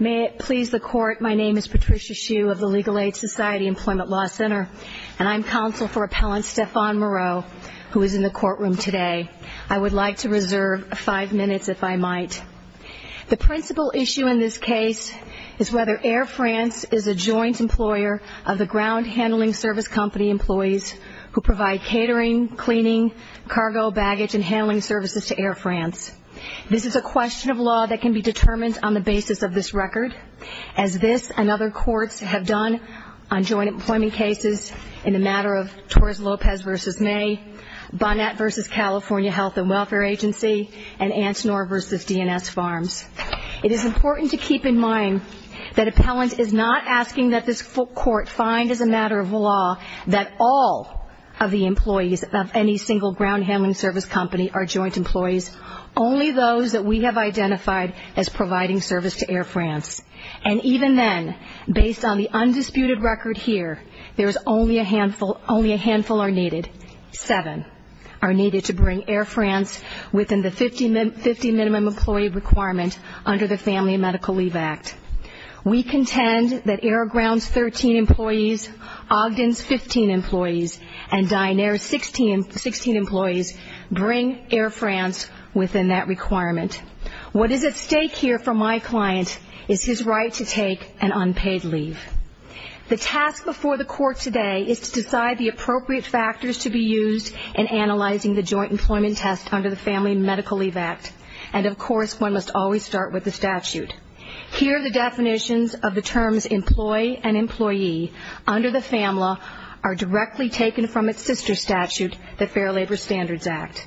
May it please the Court, my name is Patricia Hsu of the Legal Aid Society Employment Law Center, and I'm counsel for Appellant Stéphane Moreau, who is in the courtroom today. I would like to reserve five minutes, if I might. The principal issue in this case is whether Air France is a joint employer of the ground handling service company employees who provide catering, cleaning, cargo, baggage, and handling services to Air France. This is a question of law that can be determined on the basis of this record, as this and other courts have done on joint employment cases in the matter of Torres Lopez v. May, Bonnet v. California Health and Welfare Agency, and Antinor v. DNS Farms. It is important to keep in mind that Appellant is not asking that this court find as a matter of law that all of the employees of any single ground handling service company are joint employees, only those that we have identified as providing service to Air France. And even then, based on the undisputed record here, there is only a handful, only a handful are needed. Seven are needed to bring Air France within the 50 minimum employee requirement under the Family and Medical Leave Act. We contend that Air Ground's 13 employees, Ogden's 15 employees, and Dynair's 16 employees bring Air France within that requirement. What is at stake here for my client is his right to take an unpaid leave. The task before the court today is to decide the appropriate factors to be used in analyzing the joint employment test under the Family and Medical Leave Act. And of course, one must always start with the statute. Here are the definitions of the terms employee and employee under the FAMLA are directly taken from its sister statute, the Fair Labor Standards Act.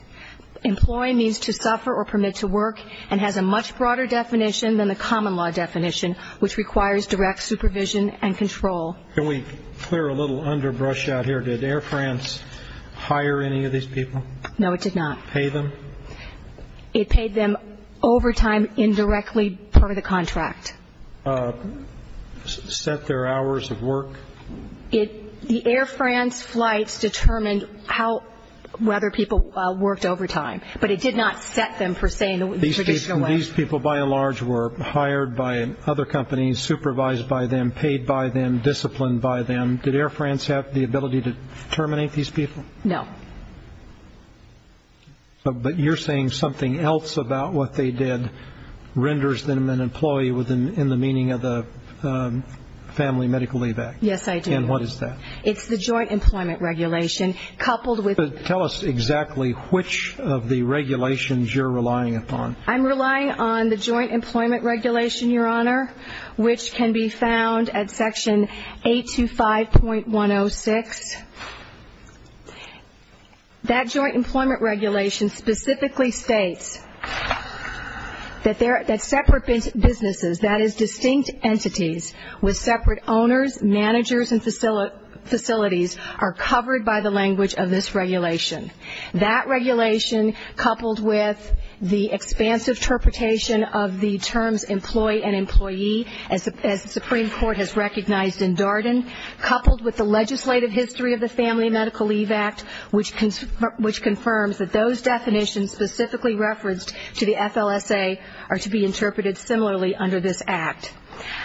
Employee means to suffer or permit to work and has a much broader definition than the common law definition, which requires direct supervision and control. Can we clear a little underbrush out here? Did Air France hire any of these people? No, it did not. Pay them? It paid them overtime indirectly per the contract. Set their hours of work? The Air France flights determined whether people worked overtime, but it did not set them per se in the traditional way. These people by and large were hired by other companies, supervised by them, paid by them, disciplined by them. Did Air France have the ability to terminate these people? No. But you're saying something else about what they did renders them an employee in the meaning of the Family and Medical Leave Act? Yes, I do. And what is that? It's the joint employment regulation coupled with the FAMLA. Tell us exactly which of the regulations you're relying upon. I'm relying on the joint employment regulation, Your Honor, which can be found at Section 825.106. That joint employment regulation specifically states that separate businesses, that is, distinct entities with separate owners, managers, and facilities are covered by the language of this regulation. That regulation coupled with the expansive interpretation of the terms employee and employee, as the Supreme Court has recognized in Darden, coupled with the legislative history of the Family and Medical Leave Act, which confirms that those definitions specifically referenced to the FLSA are to be interpreted similarly under this act.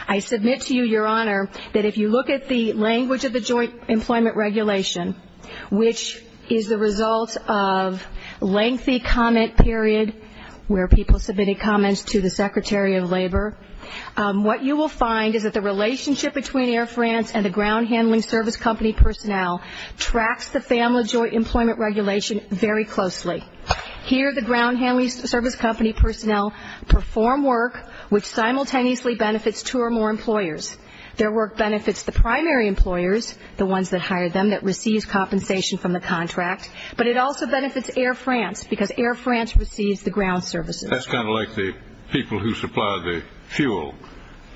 I submit to you, Your Honor, that if you look at the language of the joint employment regulation, which is the result of lengthy comment period where people submitted comments to the Secretary of Labor, what you will find is that the relationship between Air France and the ground handling service company personnel tracks the FAMLA joint employment regulation very closely. Here the ground handling service company personnel perform work which simultaneously benefits two or more employers. Their work benefits the primary employers, the ones that hire them, that receives compensation from the contract, but it also benefits Air France because Air France receives the ground services. That's kind of like the people who supply the fuel,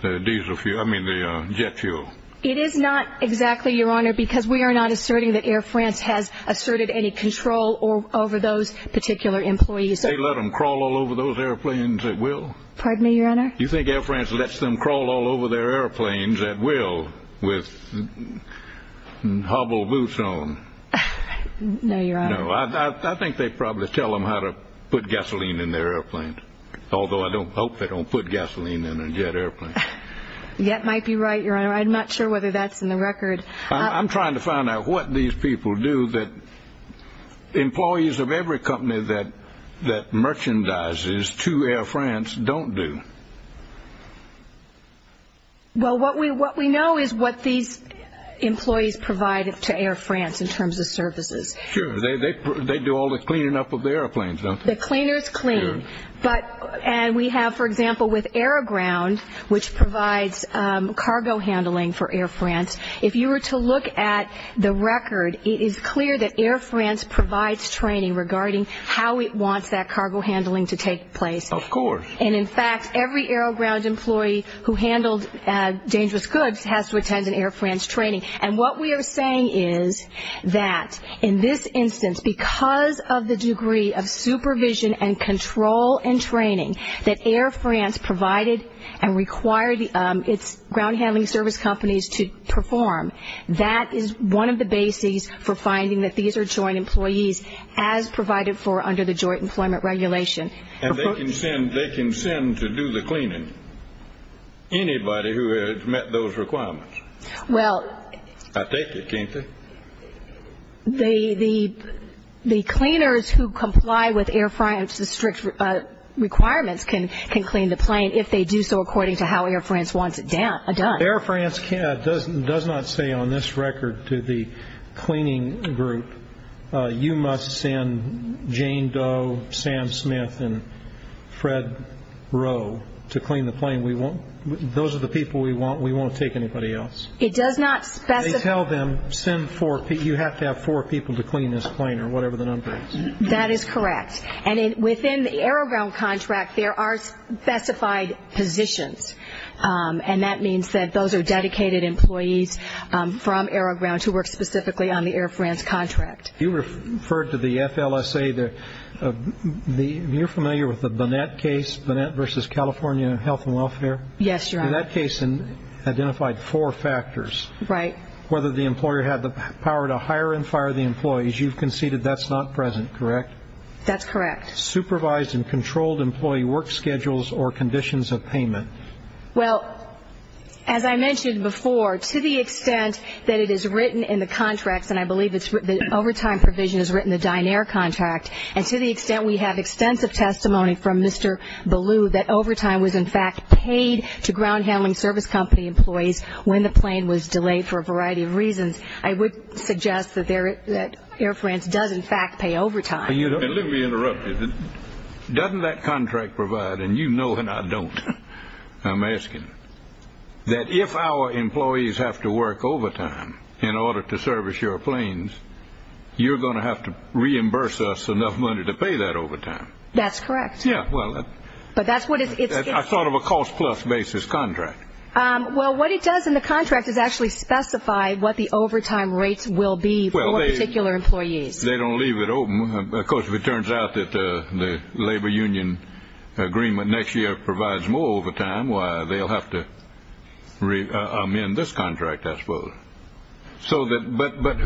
the diesel fuel, I mean the jet fuel. It is not exactly, Your Honor, because we are not asserting that Air France has asserted any control over those particular employees. They let them crawl all over those airplanes at will? Pardon me, Your Honor? You think Air France lets them crawl all over their airplanes at will with hobble boots on? No, Your Honor. No, I think they probably tell them how to put gasoline in their airplanes, although I don't hope they don't put gasoline in a jet airplane. Jet might be right, Your Honor. I'm not sure whether that's in the record. I'm trying to find out what these people do that employees of every company that merchandises to Air France don't do. Well, what we know is what these employees provide to Air France in terms of services. Sure. They do all the cleaning up of the airplanes, don't they? The cleaners clean. And we have, for example, with AeroGround, which provides cargo handling for Air France, if you were to look at the record, it is clear that Air France provides training regarding how it wants that cargo handling to take place. Of course. And, in fact, every AeroGround employee who handled dangerous goods has to attend an Air France training. And what we are saying is that, in this instance, because of the degree of supervision and control and training that Air France provided and required its ground handling service companies to perform, that is one of the bases for finding that these are joint employees as provided for under the joint employment regulation. And they can send to do the cleaning anybody who had met those requirements. Well. I think they can. The cleaners who comply with Air France's strict requirements can clean the plane if they do so according to how Air France wants it done. Air France does not say on this record to the cleaning group, you must send Jane Doe, Sam Smith, and Fred Rowe to clean the plane. Those are the people we want. We won't take anybody else. It does not specify. They tell them, you have to have four people to clean this plane or whatever the number is. That is correct. And within the AeroGround contract, there are specified positions. And that means that those are dedicated employees from AeroGround who work specifically on the Air France contract. You referred to the FLSA. You're familiar with the Bonnet case, Bonnet v. California Health and Welfare? Yes, Your Honor. That case identified four factors. Right. Whether the employer had the power to hire and fire the employees. You've conceded that's not present, correct? That's correct. Supervised and controlled employee work schedules or conditions of payment. Well, as I mentioned before, to the extent that it is written in the contracts, and I believe the overtime provision is written in the Dynair contract, and to the extent we have extensive testimony from Mr. Ballou that overtime was, in fact, paid to ground handling service company employees when the plane was delayed for a variety of reasons, I would suggest that Air France does, in fact, pay overtime. And let me interrupt you. Doesn't that contract provide, and you know and I don't, I'm asking, that if our employees have to work overtime in order to service your planes, you're going to have to reimburse us enough money to pay that overtime? That's correct. Yeah, well. But that's what it's. I thought of a cost-plus basis contract. Well, what it does in the contract is actually specify what the overtime rates will be for particular employees. They don't leave it open. Of course, if it turns out that the labor union agreement next year provides more overtime, well, they'll have to amend this contract, I suppose. But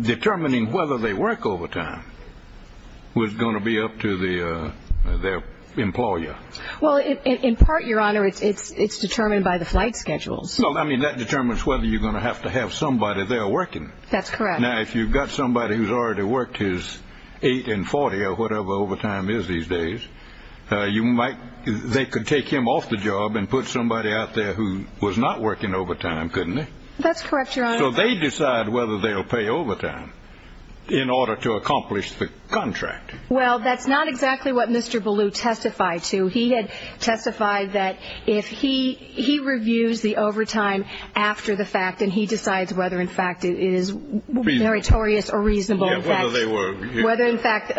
determining whether they work overtime was going to be up to their employer. Well, in part, Your Honor, it's determined by the flight schedules. Well, I mean, that determines whether you're going to have to have somebody there working. That's correct. Now, if you've got somebody who's already worked his 8 and 40 or whatever overtime is these days, they could take him off the job and put somebody out there who was not working overtime, couldn't they? That's correct, Your Honor. So they decide whether they'll pay overtime in order to accomplish the contract. Well, that's not exactly what Mr. Ballew testified to. He had testified that if he reviews the overtime after the fact and he decides whether, in fact, it is meritorious or reasonable, whether, in fact,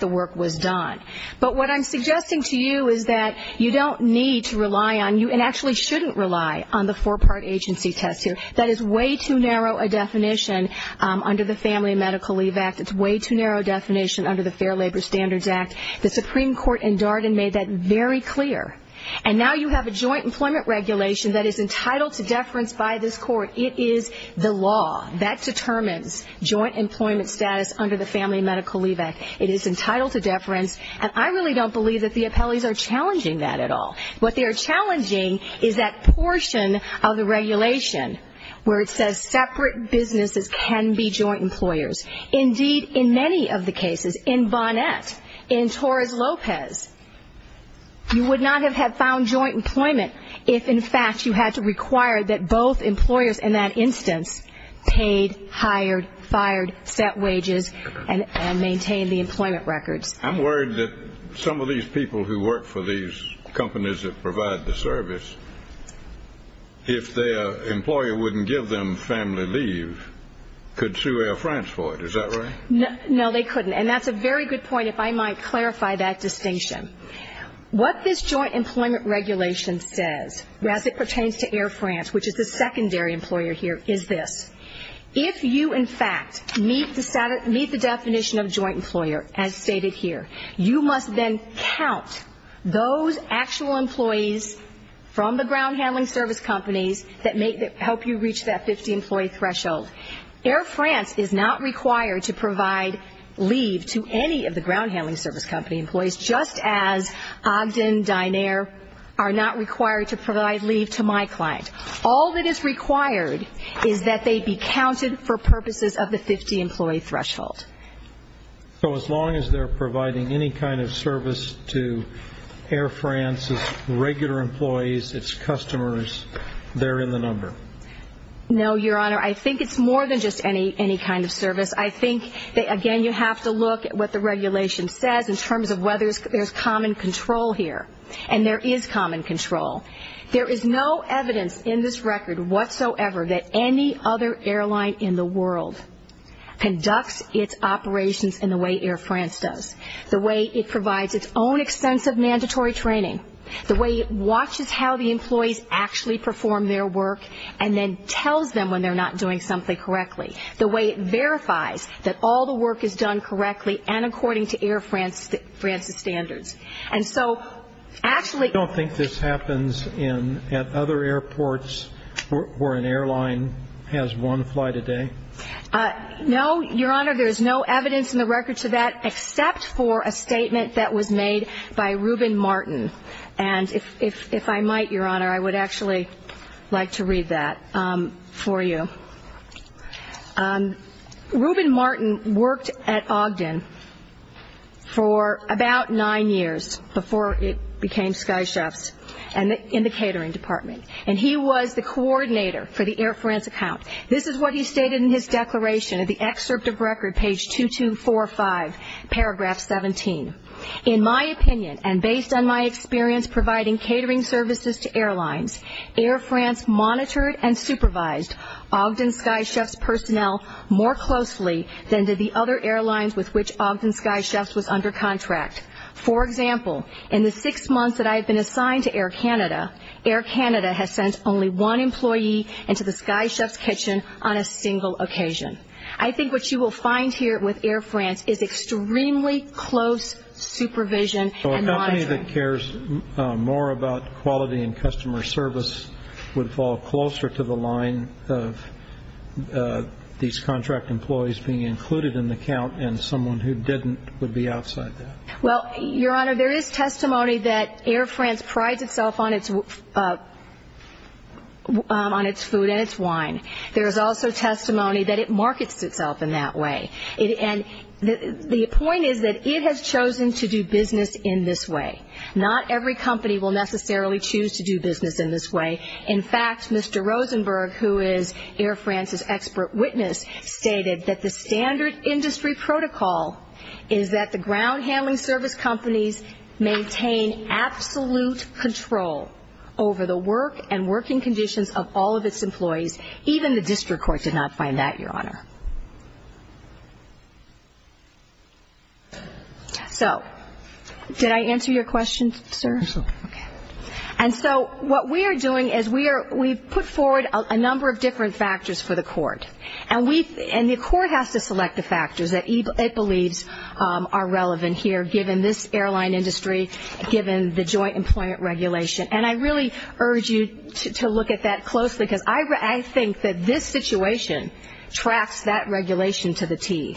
the work was done. But what I'm suggesting to you is that you don't need to rely on you and actually shouldn't rely on the four-part agency test here. That is way too narrow a definition under the Family and Medical Leave Act. It's way too narrow a definition under the Fair Labor Standards Act. The Supreme Court in Darden made that very clear. And now you have a joint employment regulation that is entitled to deference by this court. It is the law that determines joint employment status under the Family and Medical Leave Act. It is entitled to deference, and I really don't believe that the appellees are challenging that at all. What they are challenging is that portion of the regulation where it says separate businesses can be joint employers. Indeed, in many of the cases, in Bonnet, in Torres Lopez, you would not have found joint employment if, in fact, you had to require that both employers in that instance paid, hired, fired, set wages, and maintained the employment records. I'm worried that some of these people who work for these companies that provide the service, if their employer wouldn't give them family leave, could sue Air France for it. Is that right? No, they couldn't. And that's a very good point, if I might clarify that distinction. What this joint employment regulation says, as it pertains to Air France, which is the secondary employer here, is this. If you, in fact, meet the definition of joint employer, as stated here, you must then count those actual employees from the ground-handling service companies that help you reach that 50-employee threshold. Air France is not required to provide leave to any of the ground-handling service company employees just as Ogden, Dynair are not required to provide leave to my client. All that is required is that they be counted for purposes of the 50-employee threshold. So as long as they're providing any kind of service to Air France's regular employees, its customers, they're in the number? No, Your Honor. I think it's more than just any kind of service. I think, again, you have to look at what the regulation says in terms of whether there's common control here. And there is common control. There is no evidence in this record whatsoever that any other airline in the world conducts its operations in the way Air France does, the way it provides its own extensive mandatory training, the way it watches how the employees actually perform their work and then tells them when they're not doing something correctly, the way it verifies that all the work is done correctly and according to Air France's standards. And so actually – You don't think this happens at other airports where an airline has one flight a day? No, Your Honor. There's no evidence in the record to that except for a statement that was made by Reuben Martin. And if I might, Your Honor, I would actually like to read that for you. Reuben Martin worked at Ogden for about nine years before it became Sky Chefs in the catering department. And he was the coordinator for the Air France account. This is what he stated in his declaration of the excerpt of record, page 2245, paragraph 17. In my opinion and based on my experience providing catering services to airlines, Air France monitored and supervised Ogden Sky Chefs personnel more closely than did the other airlines with which Ogden Sky Chefs was under contract. For example, in the six months that I have been assigned to Air Canada, Air Canada has sent only one employee into the Sky Chefs kitchen on a single occasion. I think what you will find here with Air France is extremely close supervision and monitoring. So a company that cares more about quality and customer service would fall closer to the line of these contract employees being included in the count and someone who didn't would be outside that. Well, Your Honor, there is testimony that Air France prides itself on its food and its wine. There is also testimony that it markets itself in that way. And the point is that it has chosen to do business in this way. Not every company will necessarily choose to do business in this way. In fact, Mr. Rosenberg, who is Air France's expert witness, stated that the standard industry protocol is that the ground handling service companies maintain absolute control over the work and working conditions of all of its employees. Even the district court did not find that, Your Honor. So did I answer your question, sir? Yes, ma'am. Okay. And so what we are doing is we've put forward a number of different factors for the court. And the court has to select the factors that it believes are relevant here given this airline industry, given the joint employment regulation. And I really urge you to look at that closely, because I think that this situation tracks that regulation to the T.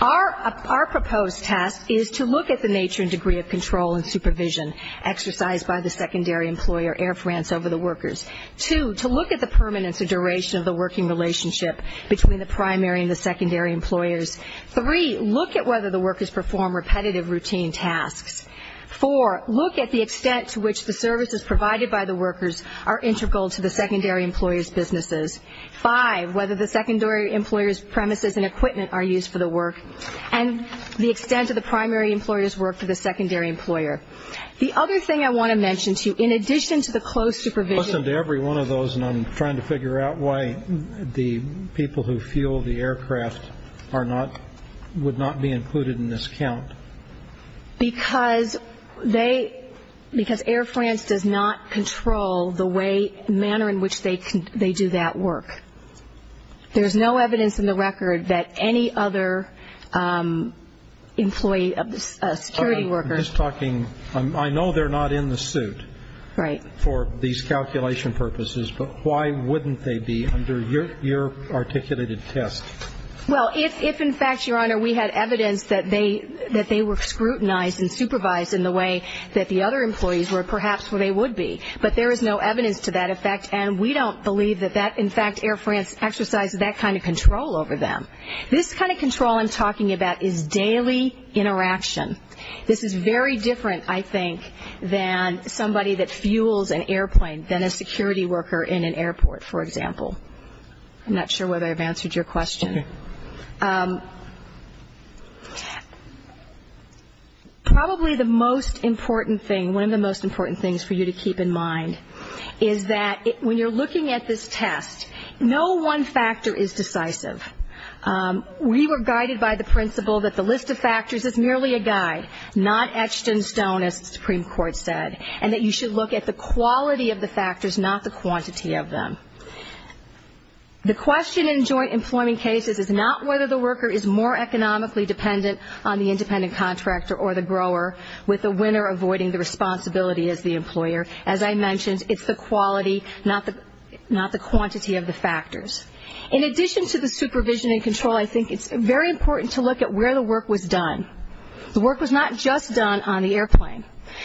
Our proposed task is to look at the nature and degree of control and supervision exercised by the secondary employer, Air France, over the workers. Two, to look at the permanence or duration of the working relationship between the primary and the secondary employers. Three, look at whether the workers perform repetitive routine tasks. Four, look at the extent to which the services provided by the workers are integral to the secondary employer's businesses. Five, whether the secondary employer's premises and equipment are used for the work. And the extent of the primary employer's work to the secondary employer. The other thing I want to mention to you, in addition to the close supervision. Listen, to every one of those, and I'm trying to figure out why the people who fuel the aircraft are not, would not be included in this count. Because they, because Air France does not control the way, manner in which they do that work. There's no evidence in the record that any other employee, security worker. I'm just talking, I know they're not in the suit. Right. For these calculation purposes. But why wouldn't they be under your articulated test? Well, if in fact, Your Honor, we had evidence that they were scrutinized and supervised in the way that the other employees were perhaps where they would be. But there is no evidence to that effect. And we don't believe that that, in fact, Air France exercises that kind of control over them. This kind of control I'm talking about is daily interaction. This is very different, I think, than somebody that fuels an airplane, than a security worker in an airport, for example. I'm not sure whether I've answered your question. Probably the most important thing, one of the most important things for you to keep in mind, is that when you're looking at this test, no one factor is decisive. We were guided by the principle that the list of factors is merely a guide, not etched in stone, as the Supreme Court said, and that you should look at the quality of the factors, not the quantity of them. The question in joint employment cases is not whether the worker is more economically dependent on the independent contractor or the grower, with the winner avoiding the responsibility as the employer. As I mentioned, it's the quality, not the quantity of the factors. In addition to the supervision and control, I think it's very important to look at where the work was done. The work was not just done on the airplane.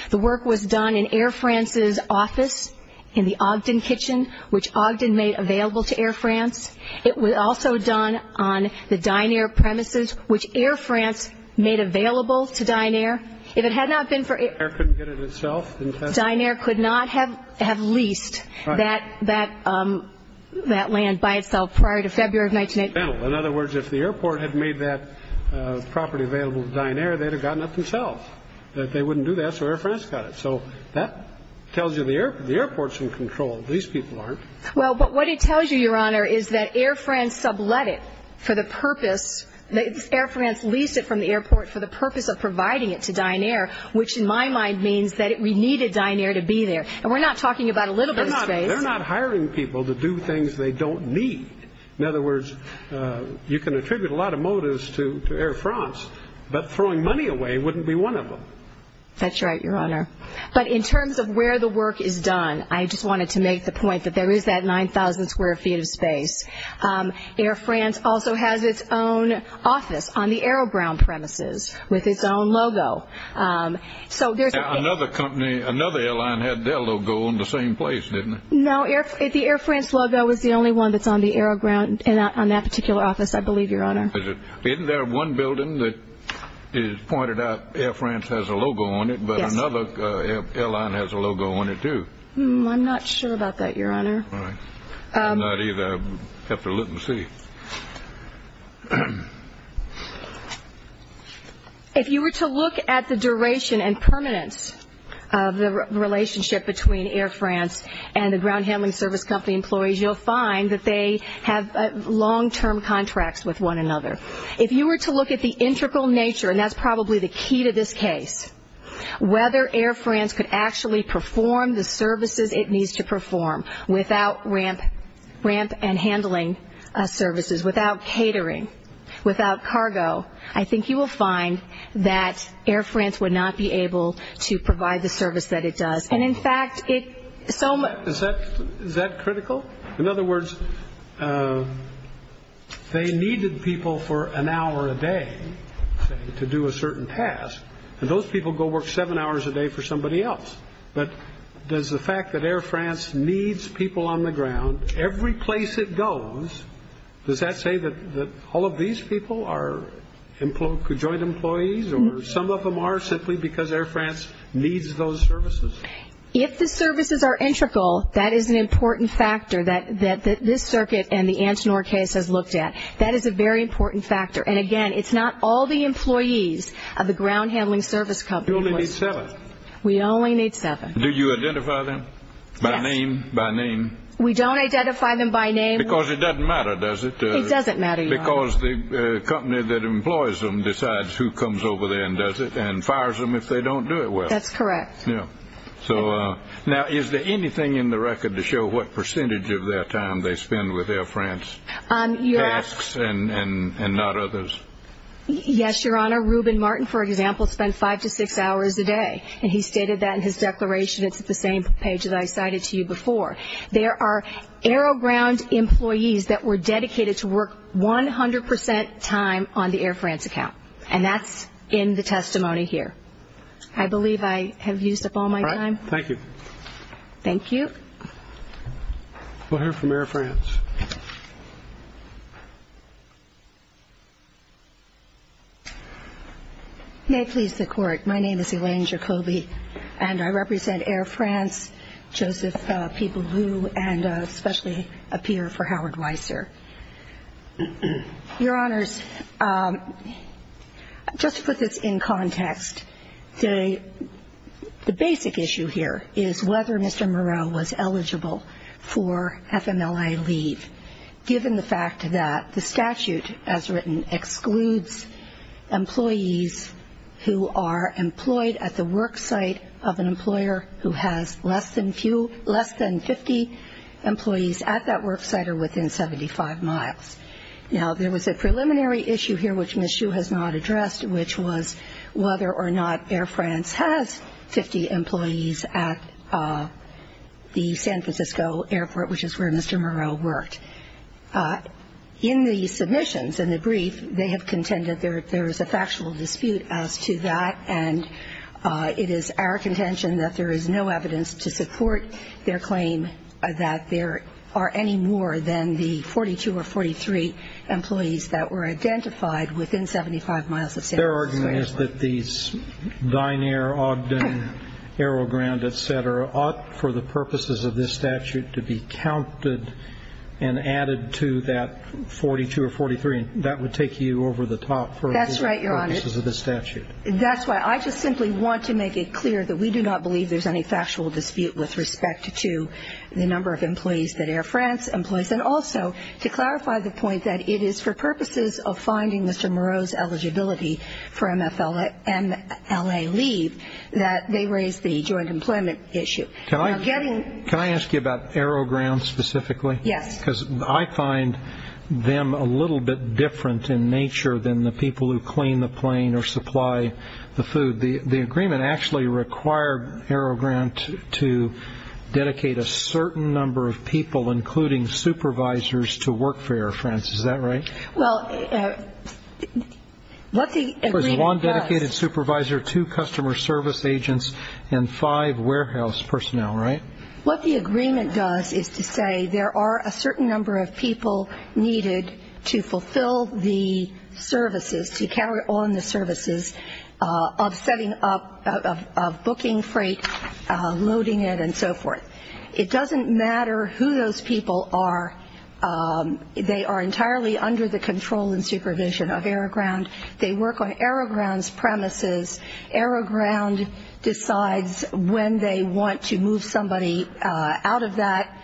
The work was done in Air France's office in the Ogden kitchen, which Ogden made available to Air France. It was also done on the Dynair premises, which Air France made available to Dynair. If it had not been for Air France, Dynair could not have leased that land by itself prior to February of 1918. In other words, if the airport had made that property available to Dynair, they'd have gotten it themselves. They wouldn't do that, so Air France got it. So that tells you the airport's in control. These people aren't. Well, but what it tells you, Your Honor, is that Air France sublet it for the purpose. Air France leased it from the airport for the purpose of providing it to Dynair, which in my mind means that we needed Dynair to be there. And we're not talking about a little bit of space. They're not hiring people to do things they don't need. In other words, you can attribute a lot of motives to Air France, but throwing money away wouldn't be one of them. That's right, Your Honor. But in terms of where the work is done, I just wanted to make the point that there is that 9,000 square feet of space. Air France also has its own office on the AeroGround premises with its own logo. Another airline had their logo on the same place, didn't it? No, the Air France logo is the only one that's on that particular office, I believe, Your Honor. Isn't there one building that pointed out Air France has a logo on it, but another airline has a logo on it too? I'm not sure about that, Your Honor. All right. I'm not either. I'll have to look and see. If you were to look at the duration and permanence of the relationship between Air France and the ground handling service company employees, you'll find that they have long-term contracts with one another. If you were to look at the integral nature, and that's probably the key to this case, whether Air France could actually perform the services it needs to perform without ramp and handling services, without catering, without cargo, I think you will find that Air France would not be able to provide the service that it does. And, in fact, it so much. Is that critical? In other words, they needed people for an hour a day to do a certain task, and those people go work seven hours a day for somebody else. But does the fact that Air France needs people on the ground every place it goes, does that say that all of these people are joint employees or some of them are simply because Air France needs those services? If the services are integral, that is an important factor that this circuit and the Antinor case has looked at. That is a very important factor. And, again, it's not all the employees of the ground handling service company. You only need seven. We only need seven. Do you identify them by name? We don't identify them by name. Because it doesn't matter, does it? It doesn't matter, Your Honor. Because the company that employs them decides who comes over there and does it and fires them if they don't do it well. That's correct. Now, is there anything in the record to show what percentage of their time they spend with Air France? Tasks and not others. Yes, Your Honor. Reuben Martin, for example, spent five to six hours a day. And he stated that in his declaration. It's the same page that I cited to you before. There are AeroGround employees that were dedicated to work 100% time on the Air France account. And that's in the testimony here. I believe I have used up all my time. Thank you. Thank you. We'll hear from Air France. May it please the Court, my name is Elaine Jacoby, and I represent Air France, Joseph P. Ballou, and especially a peer for Howard Weiser. Your Honors, just to put this in context, the basic issue here is whether Mr. Moreau was eligible for FMLI leave, given the fact that the statute, as written, excludes employees who are employed at the work site of an employer who has less than 50 employees at that work site or within 75 miles. Now, there was a preliminary issue here, which Ms. Hsu has not addressed, which was whether or not Air France has 50 employees at the San Francisco airport, which is where Mr. Moreau worked. In the submissions, in the brief, they have contended there is a factual dispute as to that, and it is our contention that there is no evidence to support their claim that there are any more than the 42 or 43 employees that were identified within 75 miles of San Francisco. Their argument is that these Dynair, Ogden, AeroGrand, et cetera, ought for the purposes of this statute to be counted and added to that 42 or 43. That would take you over the top for the purposes of this statute. That's right, Your Honors. That's why I just simply want to make it clear that we do not believe there's any factual dispute with respect to the number of employees that Air France employs. And also to clarify the point that it is for purposes of finding Mr. Moreau's eligibility for MFLA leave that they raise the joint employment issue. Can I ask you about AeroGrand specifically? Yes. Because I find them a little bit different in nature than the people who clean the plane or supply the food. The agreement actually required AeroGrand to dedicate a certain number of people, including supervisors, to work for Air France. Is that right? Well, what the agreement does. Of course, one dedicated supervisor, two customer service agents, and five warehouse personnel, right? What the agreement does is to say there are a certain number of people needed to fulfill the services, to carry on the services of setting up, of booking freight, loading it, and so forth. It doesn't matter who those people are. They are entirely under the control and supervision of AeroGrand. They work on AeroGrand's premises. AeroGrand decides when they want to move somebody out of that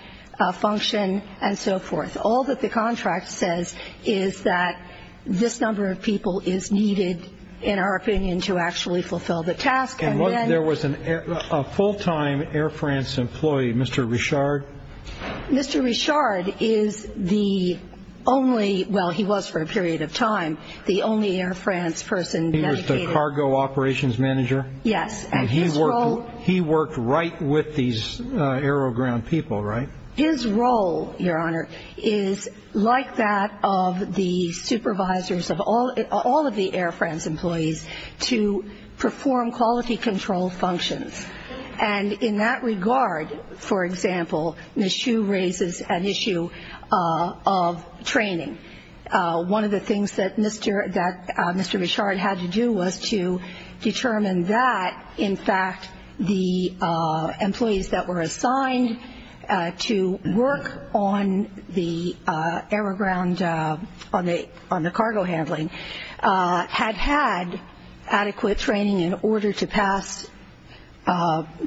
function and so forth. All that the contract says is that this number of people is needed, in our opinion, to actually fulfill the task. And there was a full-time Air France employee, Mr. Richard? Mr. Richard is the only, well, he was for a period of time, the only Air France person dedicated. He was the cargo operations manager? Yes. And he worked right with these AeroGrand people, right? His role, Your Honor, is like that of the supervisors of all of the Air France employees to perform quality control functions. And in that regard, for example, Ms. Hsu raises an issue of training. One of the things that Mr. Richard had to do was to determine that, in fact, the employees that were assigned to work on the AeroGrand, on the cargo handling, had had adequate training in order to pass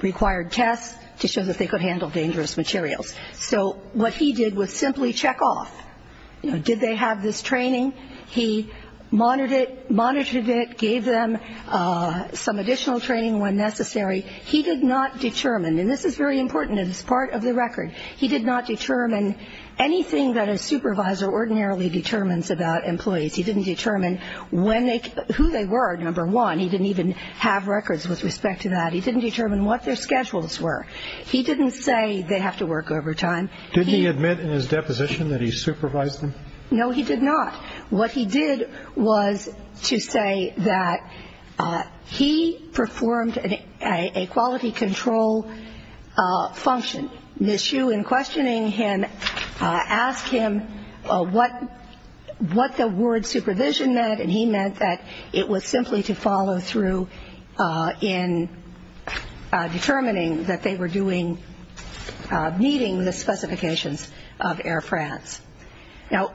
required tests to show that they could handle dangerous materials. So what he did was simply check off. Did they have this training? He monitored it, gave them some additional training when necessary. He did not determine, and this is very important, it is part of the record, he did not determine anything that a supervisor ordinarily determines about employees. He didn't determine who they were, number one. He didn't even have records with respect to that. He didn't determine what their schedules were. He didn't say they have to work overtime. Did he admit in his deposition that he supervised them? No, he did not. What he did was to say that he performed a quality control function. Ms. Hsu, in questioning him, asked him what the word supervision meant, and he meant that it was simply to follow through in determining that they were doing, meeting the specifications of Air France. Now,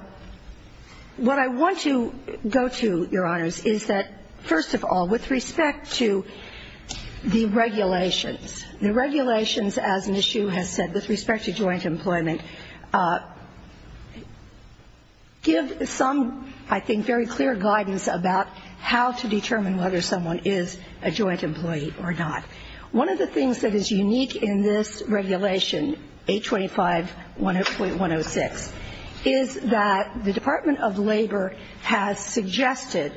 what I want to go to, Your Honors, is that, first of all, with respect to the regulations, the regulations, as Ms. Hsu has said, with respect to joint employment, give some, I think, very clear guidance about how to determine whether someone is a joint employee or not. One of the things that is unique in this regulation, 825.106, is that the Department of Labor has suggested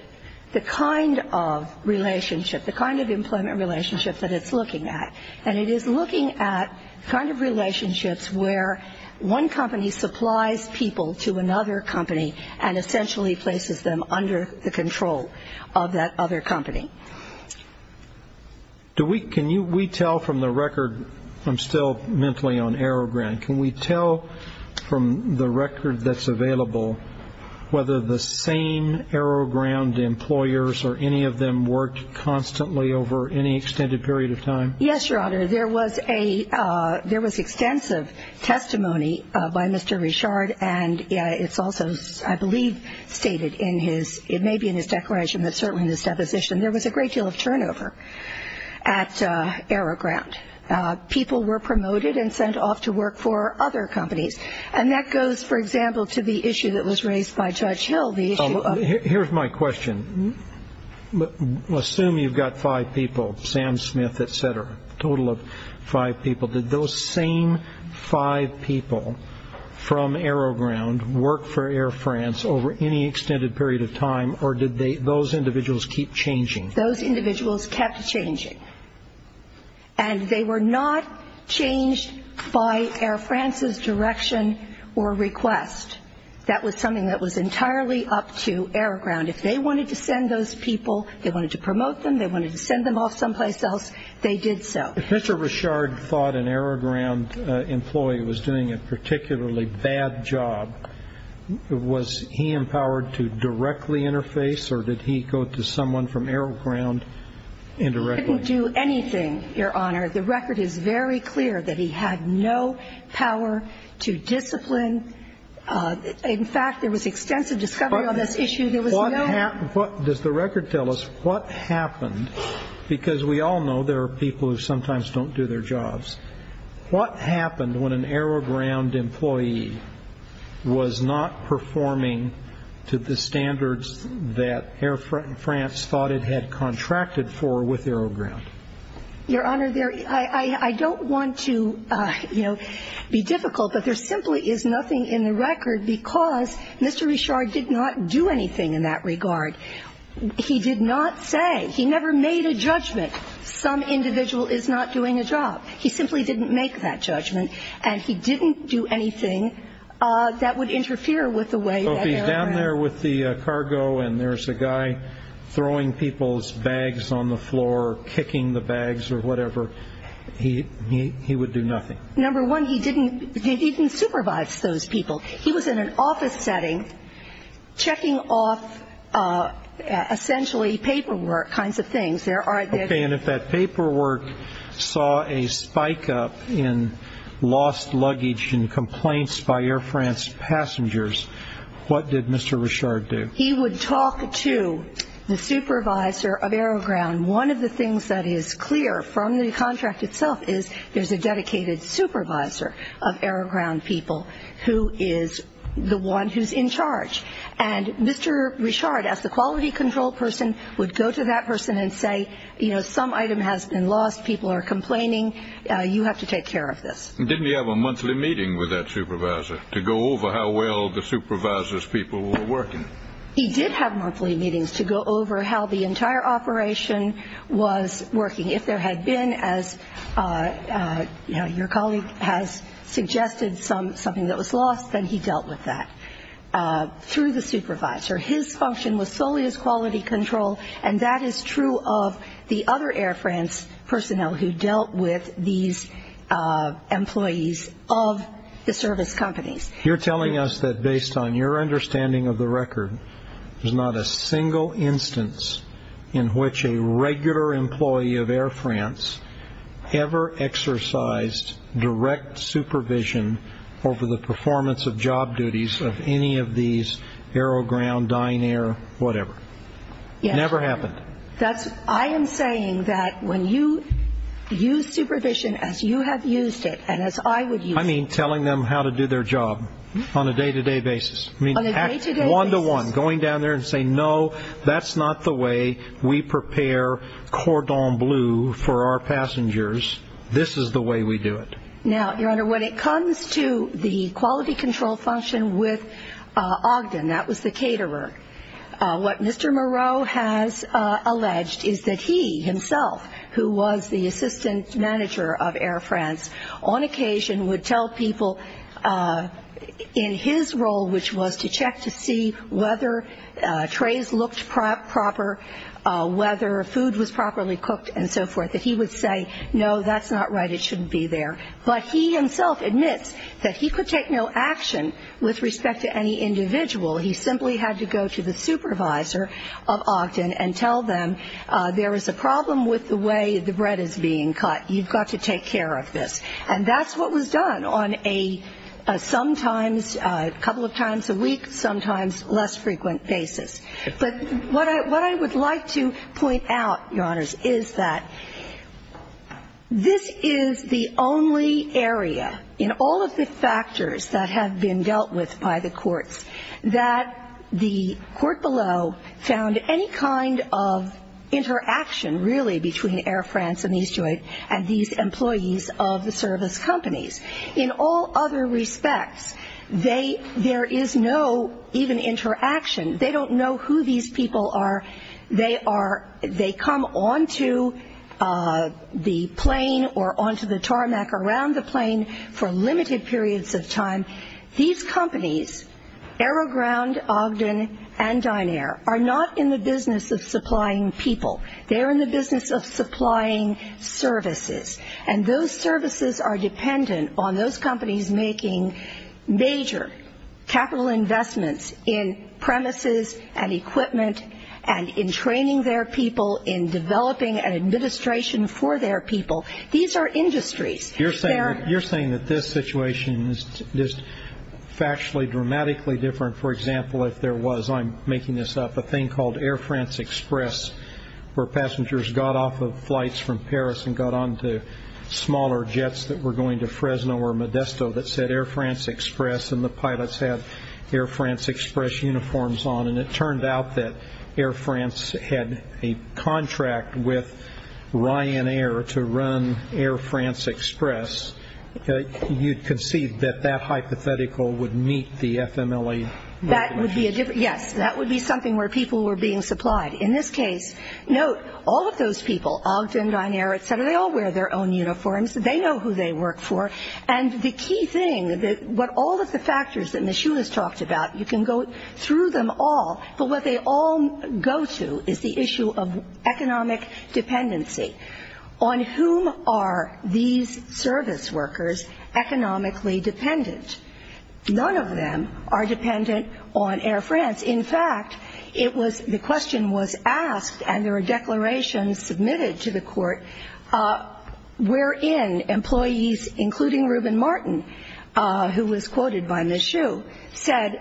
the kind of relationship, the kind of employment relationship that it's looking at, and it is looking at the kind of relationships where one company supplies people to another company and essentially places them under the control of that other company. Can we tell from the record, I'm still mentally on AeroGround, can we tell from the record that's available whether the same AeroGround employers or any of them worked constantly over any extended period of time? Yes, Your Honor, there was extensive testimony by Mr. Richard, and it's also, I believe, stated in his, it may be in his declaration, but certainly in his deposition, there was a great deal of turnover at AeroGround. People were promoted and sent off to work for other companies. And that goes, for example, to the issue that was raised by Judge Hill. Here's my question. Assume you've got five people, Sam Smith, et cetera, a total of five people. Did those same five people from AeroGround work for Air France over any extended period of time, or did those individuals keep changing? Those individuals kept changing, and they were not changed by Air France's direction or request. That was something that was entirely up to AeroGround. If they wanted to send those people, they wanted to promote them, they wanted to send them off someplace else, they did so. If Mr. Richard thought an AeroGround employee was doing a particularly bad job, was he empowered to directly interface, or did he go to someone from AeroGround indirectly? He couldn't do anything, Your Honor. The record is very clear that he had no power to discipline. In fact, there was extensive discovery on this issue. Does the record tell us what happened? Because we all know there are people who sometimes don't do their jobs. What happened when an AeroGround employee was not performing to the standards that Air France thought it had contracted for with AeroGround? Your Honor, I don't want to, you know, be difficult, but there simply is nothing in the record because Mr. Richard did not do anything in that regard. He did not say. He never made a judgment some individual is not doing a job. He simply didn't make that judgment, and he didn't do anything that would interfere with the way that AeroGround. If you're down there with the cargo and there's a guy throwing people's bags on the floor, kicking the bags or whatever, he would do nothing. Number one, he didn't supervise those people. He was in an office setting checking off essentially paperwork kinds of things. Okay, and if that paperwork saw a spike up in lost luggage and complaints by Air France passengers, what did Mr. Richard do? He would talk to the supervisor of AeroGround. One of the things that is clear from the contract itself is there's a dedicated supervisor of AeroGround people who is the one who's in charge. And Mr. Richard, as the quality control person, would go to that person and say, you know, some item has been lost. People are complaining. You have to take care of this. Didn't he have a monthly meeting with that supervisor to go over how well the supervisor's people were working? He did have monthly meetings to go over how the entire operation was working. If there had been, as your colleague has suggested, something that was lost, then he dealt with that through the supervisor. His function was solely as quality control, and that is true of the other Air France personnel who dealt with these employees of the service companies. You're telling us that based on your understanding of the record, there's not a single instance in which a regular employee of Air France ever exercised direct supervision over the performance of job duties of any of these AeroGround, Dynair, whatever? Never happened. I am saying that when you use supervision as you have used it and as I would use it. I mean telling them how to do their job on a day-to-day basis. On a day-to-day basis? One-to-one, going down there and saying, no, that's not the way we prepare cordon bleu for our passengers. This is the way we do it. Now, your Honor, when it comes to the quality control function with Ogden, that was the caterer, what Mr. Moreau has alleged is that he himself, who was the assistant manager of Air France, on occasion would tell people in his role, which was to check to see whether trays looked proper, whether food was properly cooked and so forth, that he would say, no, that's not right. It shouldn't be there. But he himself admits that he could take no action with respect to any individual. He simply had to go to the supervisor of Ogden and tell them, there is a problem with the way the bread is being cut. You've got to take care of this. And that's what was done on a sometimes, a couple of times a week, sometimes less frequent basis. But what I would like to point out, your Honors, is that this is the only area in all of the factors that have been dealt with by the courts that the court below found any kind of interaction, really, between Air France and these employees of the service companies. In all other respects, there is no even interaction. They don't know who these people are. They come onto the plane or onto the tarmac around the plane for limited periods of time. These companies, AeroGround, Ogden, and Dynair, are not in the business of supplying people. They are in the business of supplying services. And those services are dependent on those companies making major capital investments in premises and equipment and in training their people, in developing an administration for their people. These are industries. You're saying that this situation is factually, dramatically different. For example, if there was, I'm making this up, a thing called Air France Express, where passengers got off of flights from Paris and got onto smaller jets that were going to Fresno or Modesto that said Air France Express, and the pilots had Air France Express uniforms on. And it turned out that Air France had a contract with Ryanair to run Air France Express. You'd concede that that hypothetical would meet the FMLA regulations. Yes, that would be something where people were being supplied. In this case, note, all of those people, Ogden, Dynair, et cetera, they all wear their own uniforms. They know who they work for. And the key thing, all of the factors that Ms. Hulis talked about, you can go through them all, but what they all go to is the issue of economic dependency. On whom are these service workers economically dependent? None of them are dependent on Air France. In fact, the question was asked, and there were declarations submitted to the court, wherein employees, including Ruben Martin, who was quoted by Ms. Hulis, said,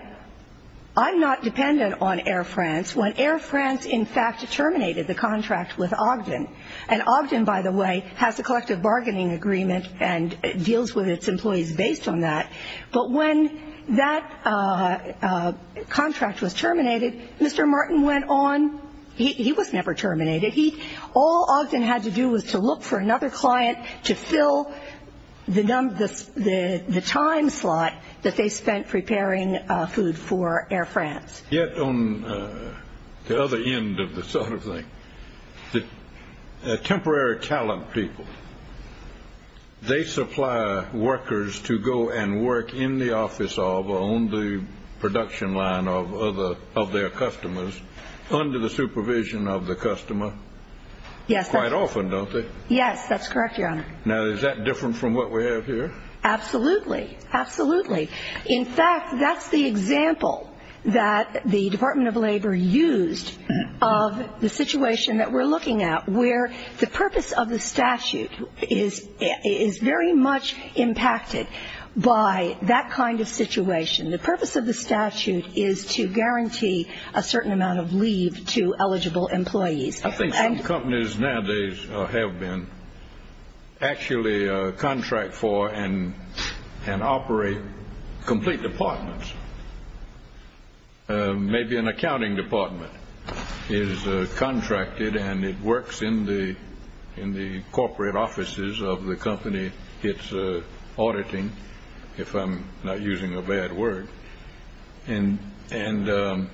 I'm not dependent on Air France when Air France in fact terminated the contract with Ogden. And Ogden, by the way, has a collective bargaining agreement and deals with its employees based on that. But when that contract was terminated, Mr. Martin went on. He was never terminated. All Ogden had to do was to look for another client to fill the time slot that they spent preparing food for Air France. Yet on the other end of the sort of thing, the temporary talent people, they supply workers to go and work in the office of or on the production line of their customers under the supervision of the customer quite often, don't they? Yes, that's correct, Your Honor. Now, is that different from what we have here? Absolutely, absolutely. In fact, that's the example that the Department of Labor used of the situation that we're looking at, where the purpose of the statute is very much impacted by that kind of situation. The purpose of the statute is to guarantee a certain amount of leave to eligible employees. I think some companies nowadays have been actually contract for and operate complete departments. Maybe an accounting department is contracted and it works in the corporate offices of the company. It's auditing, if I'm not using a bad word. And they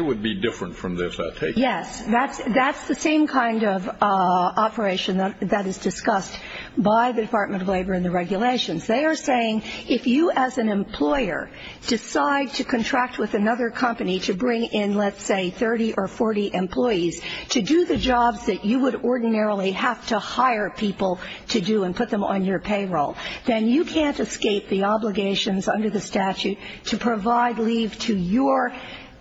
would be different from this, I take it. Yes, that's the same kind of operation that is discussed by the Department of Labor and the regulations. They are saying if you as an employer decide to contract with another company to bring in, let's say, 30 or 40 employees, to do the jobs that you would ordinarily have to hire people to do and put them on your payroll, then you can't escape the obligations under the statute to provide leave to your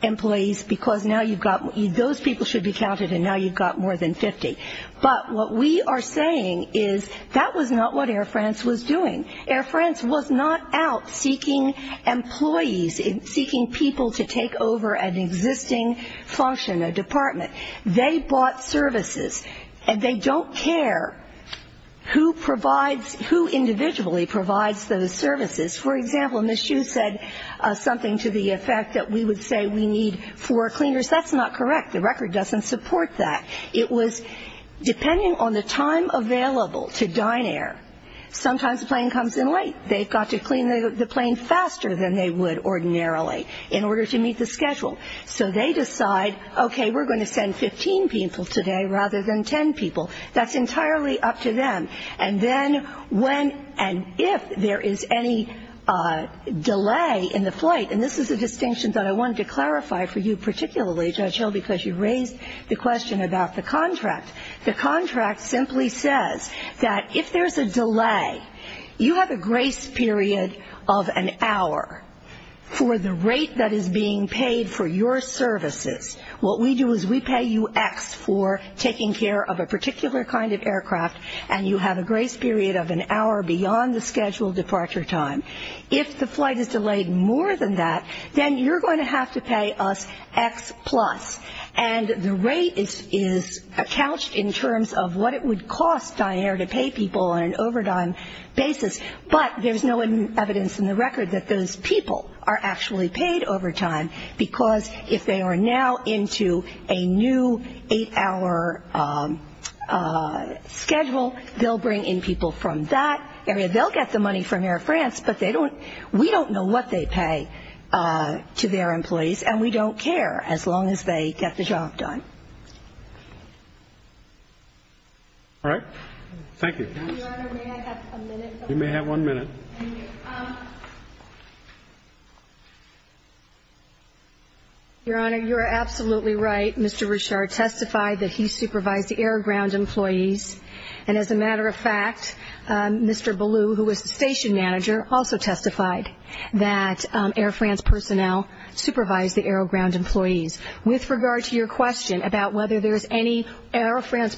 employees because those people should be counted and now you've got more than 50. But what we are saying is that was not what Air France was doing. Air France was not out seeking employees, seeking people to take over an existing function, a department. They bought services and they don't care who provides, who individually provides those services. For example, Ms. Hsu said something to the effect that we would say we need four cleaners. That's not correct. The record doesn't support that. It was depending on the time available to dine air. Sometimes a plane comes in late. They've got to clean the plane faster than they would ordinarily in order to meet the schedule. So they decide, okay, we're going to send 15 people today rather than 10 people. That's entirely up to them. And then when and if there is any delay in the flight, and this is a distinction that I wanted to clarify for you particularly, Judge Hill, because you raised the question about the contract. The contract simply says that if there's a delay, you have a grace period of an hour for the rate that is being paid for your services. What we do is we pay you X for taking care of a particular kind of aircraft, and you have a grace period of an hour beyond the scheduled departure time. If the flight is delayed more than that, then you're going to have to pay us X plus. And the rate is couched in terms of what it would cost dine air to pay people on an overtime basis, but there's no evidence in the record that those people are actually paid overtime because if they are now into a new eight-hour schedule, they'll bring in people from that area. They'll get the money from Air France, but we don't know what they pay to their employees, and we don't care as long as they get the job done. All right. Thank you. Your Honor, may I have a minute? You may have one minute. Thank you. Your Honor, you're absolutely right. Mr. Richard testified that he supervised the air ground employees, and as a matter of fact, Mr. Ballou, who was the station manager, also testified that Air France personnel supervised the air ground employees. With regard to your question about whether there's any Air France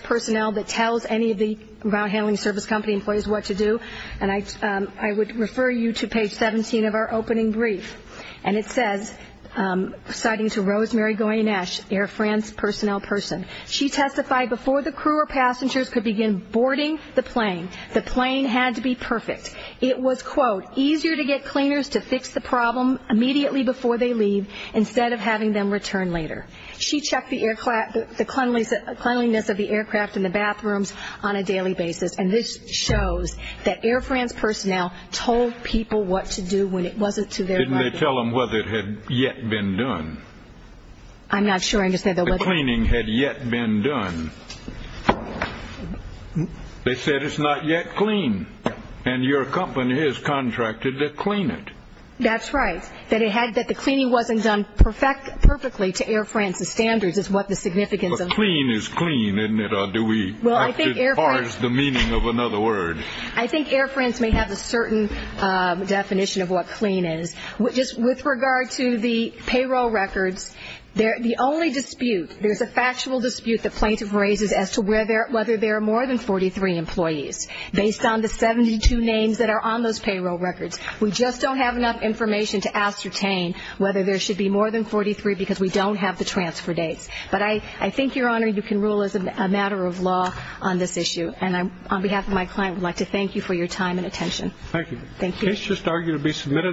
personnel that tells any of the route handling service company employees what to do, and I would refer you to page 17 of our opening brief, and it says, citing to Rosemary Goinesh, Air France personnel person, she testified before the crew or passengers could begin boarding the plane, the plane had to be perfect. It was, quote, easier to get cleaners to fix the problem immediately before they leave instead of having them return later. She checked the cleanliness of the aircraft and the bathrooms on a daily basis, and this shows that Air France personnel told people what to do when it wasn't to their liking. Didn't they tell them whether it had yet been done? I'm not sure. The cleaning had yet been done. They said it's not yet clean, and your company has contracted to clean it. That's right, that the cleaning wasn't done perfectly to Air France's standards is what the significance of that is. But clean is clean, isn't it, or do we have to parse the meaning of another word? I think Air France may have a certain definition of what clean is. Just with regard to the payroll records, the only dispute, there's a factual dispute the plaintiff raises as to whether there are more than 43 employees based on the 72 names that are on those payroll records. We just don't have enough information to ascertain whether there should be more than 43 because we don't have the transfer dates. But I think, Your Honor, you can rule as a matter of law on this issue, and on behalf of my client, I would like to thank you for your time and attention. Thank you. Thank you.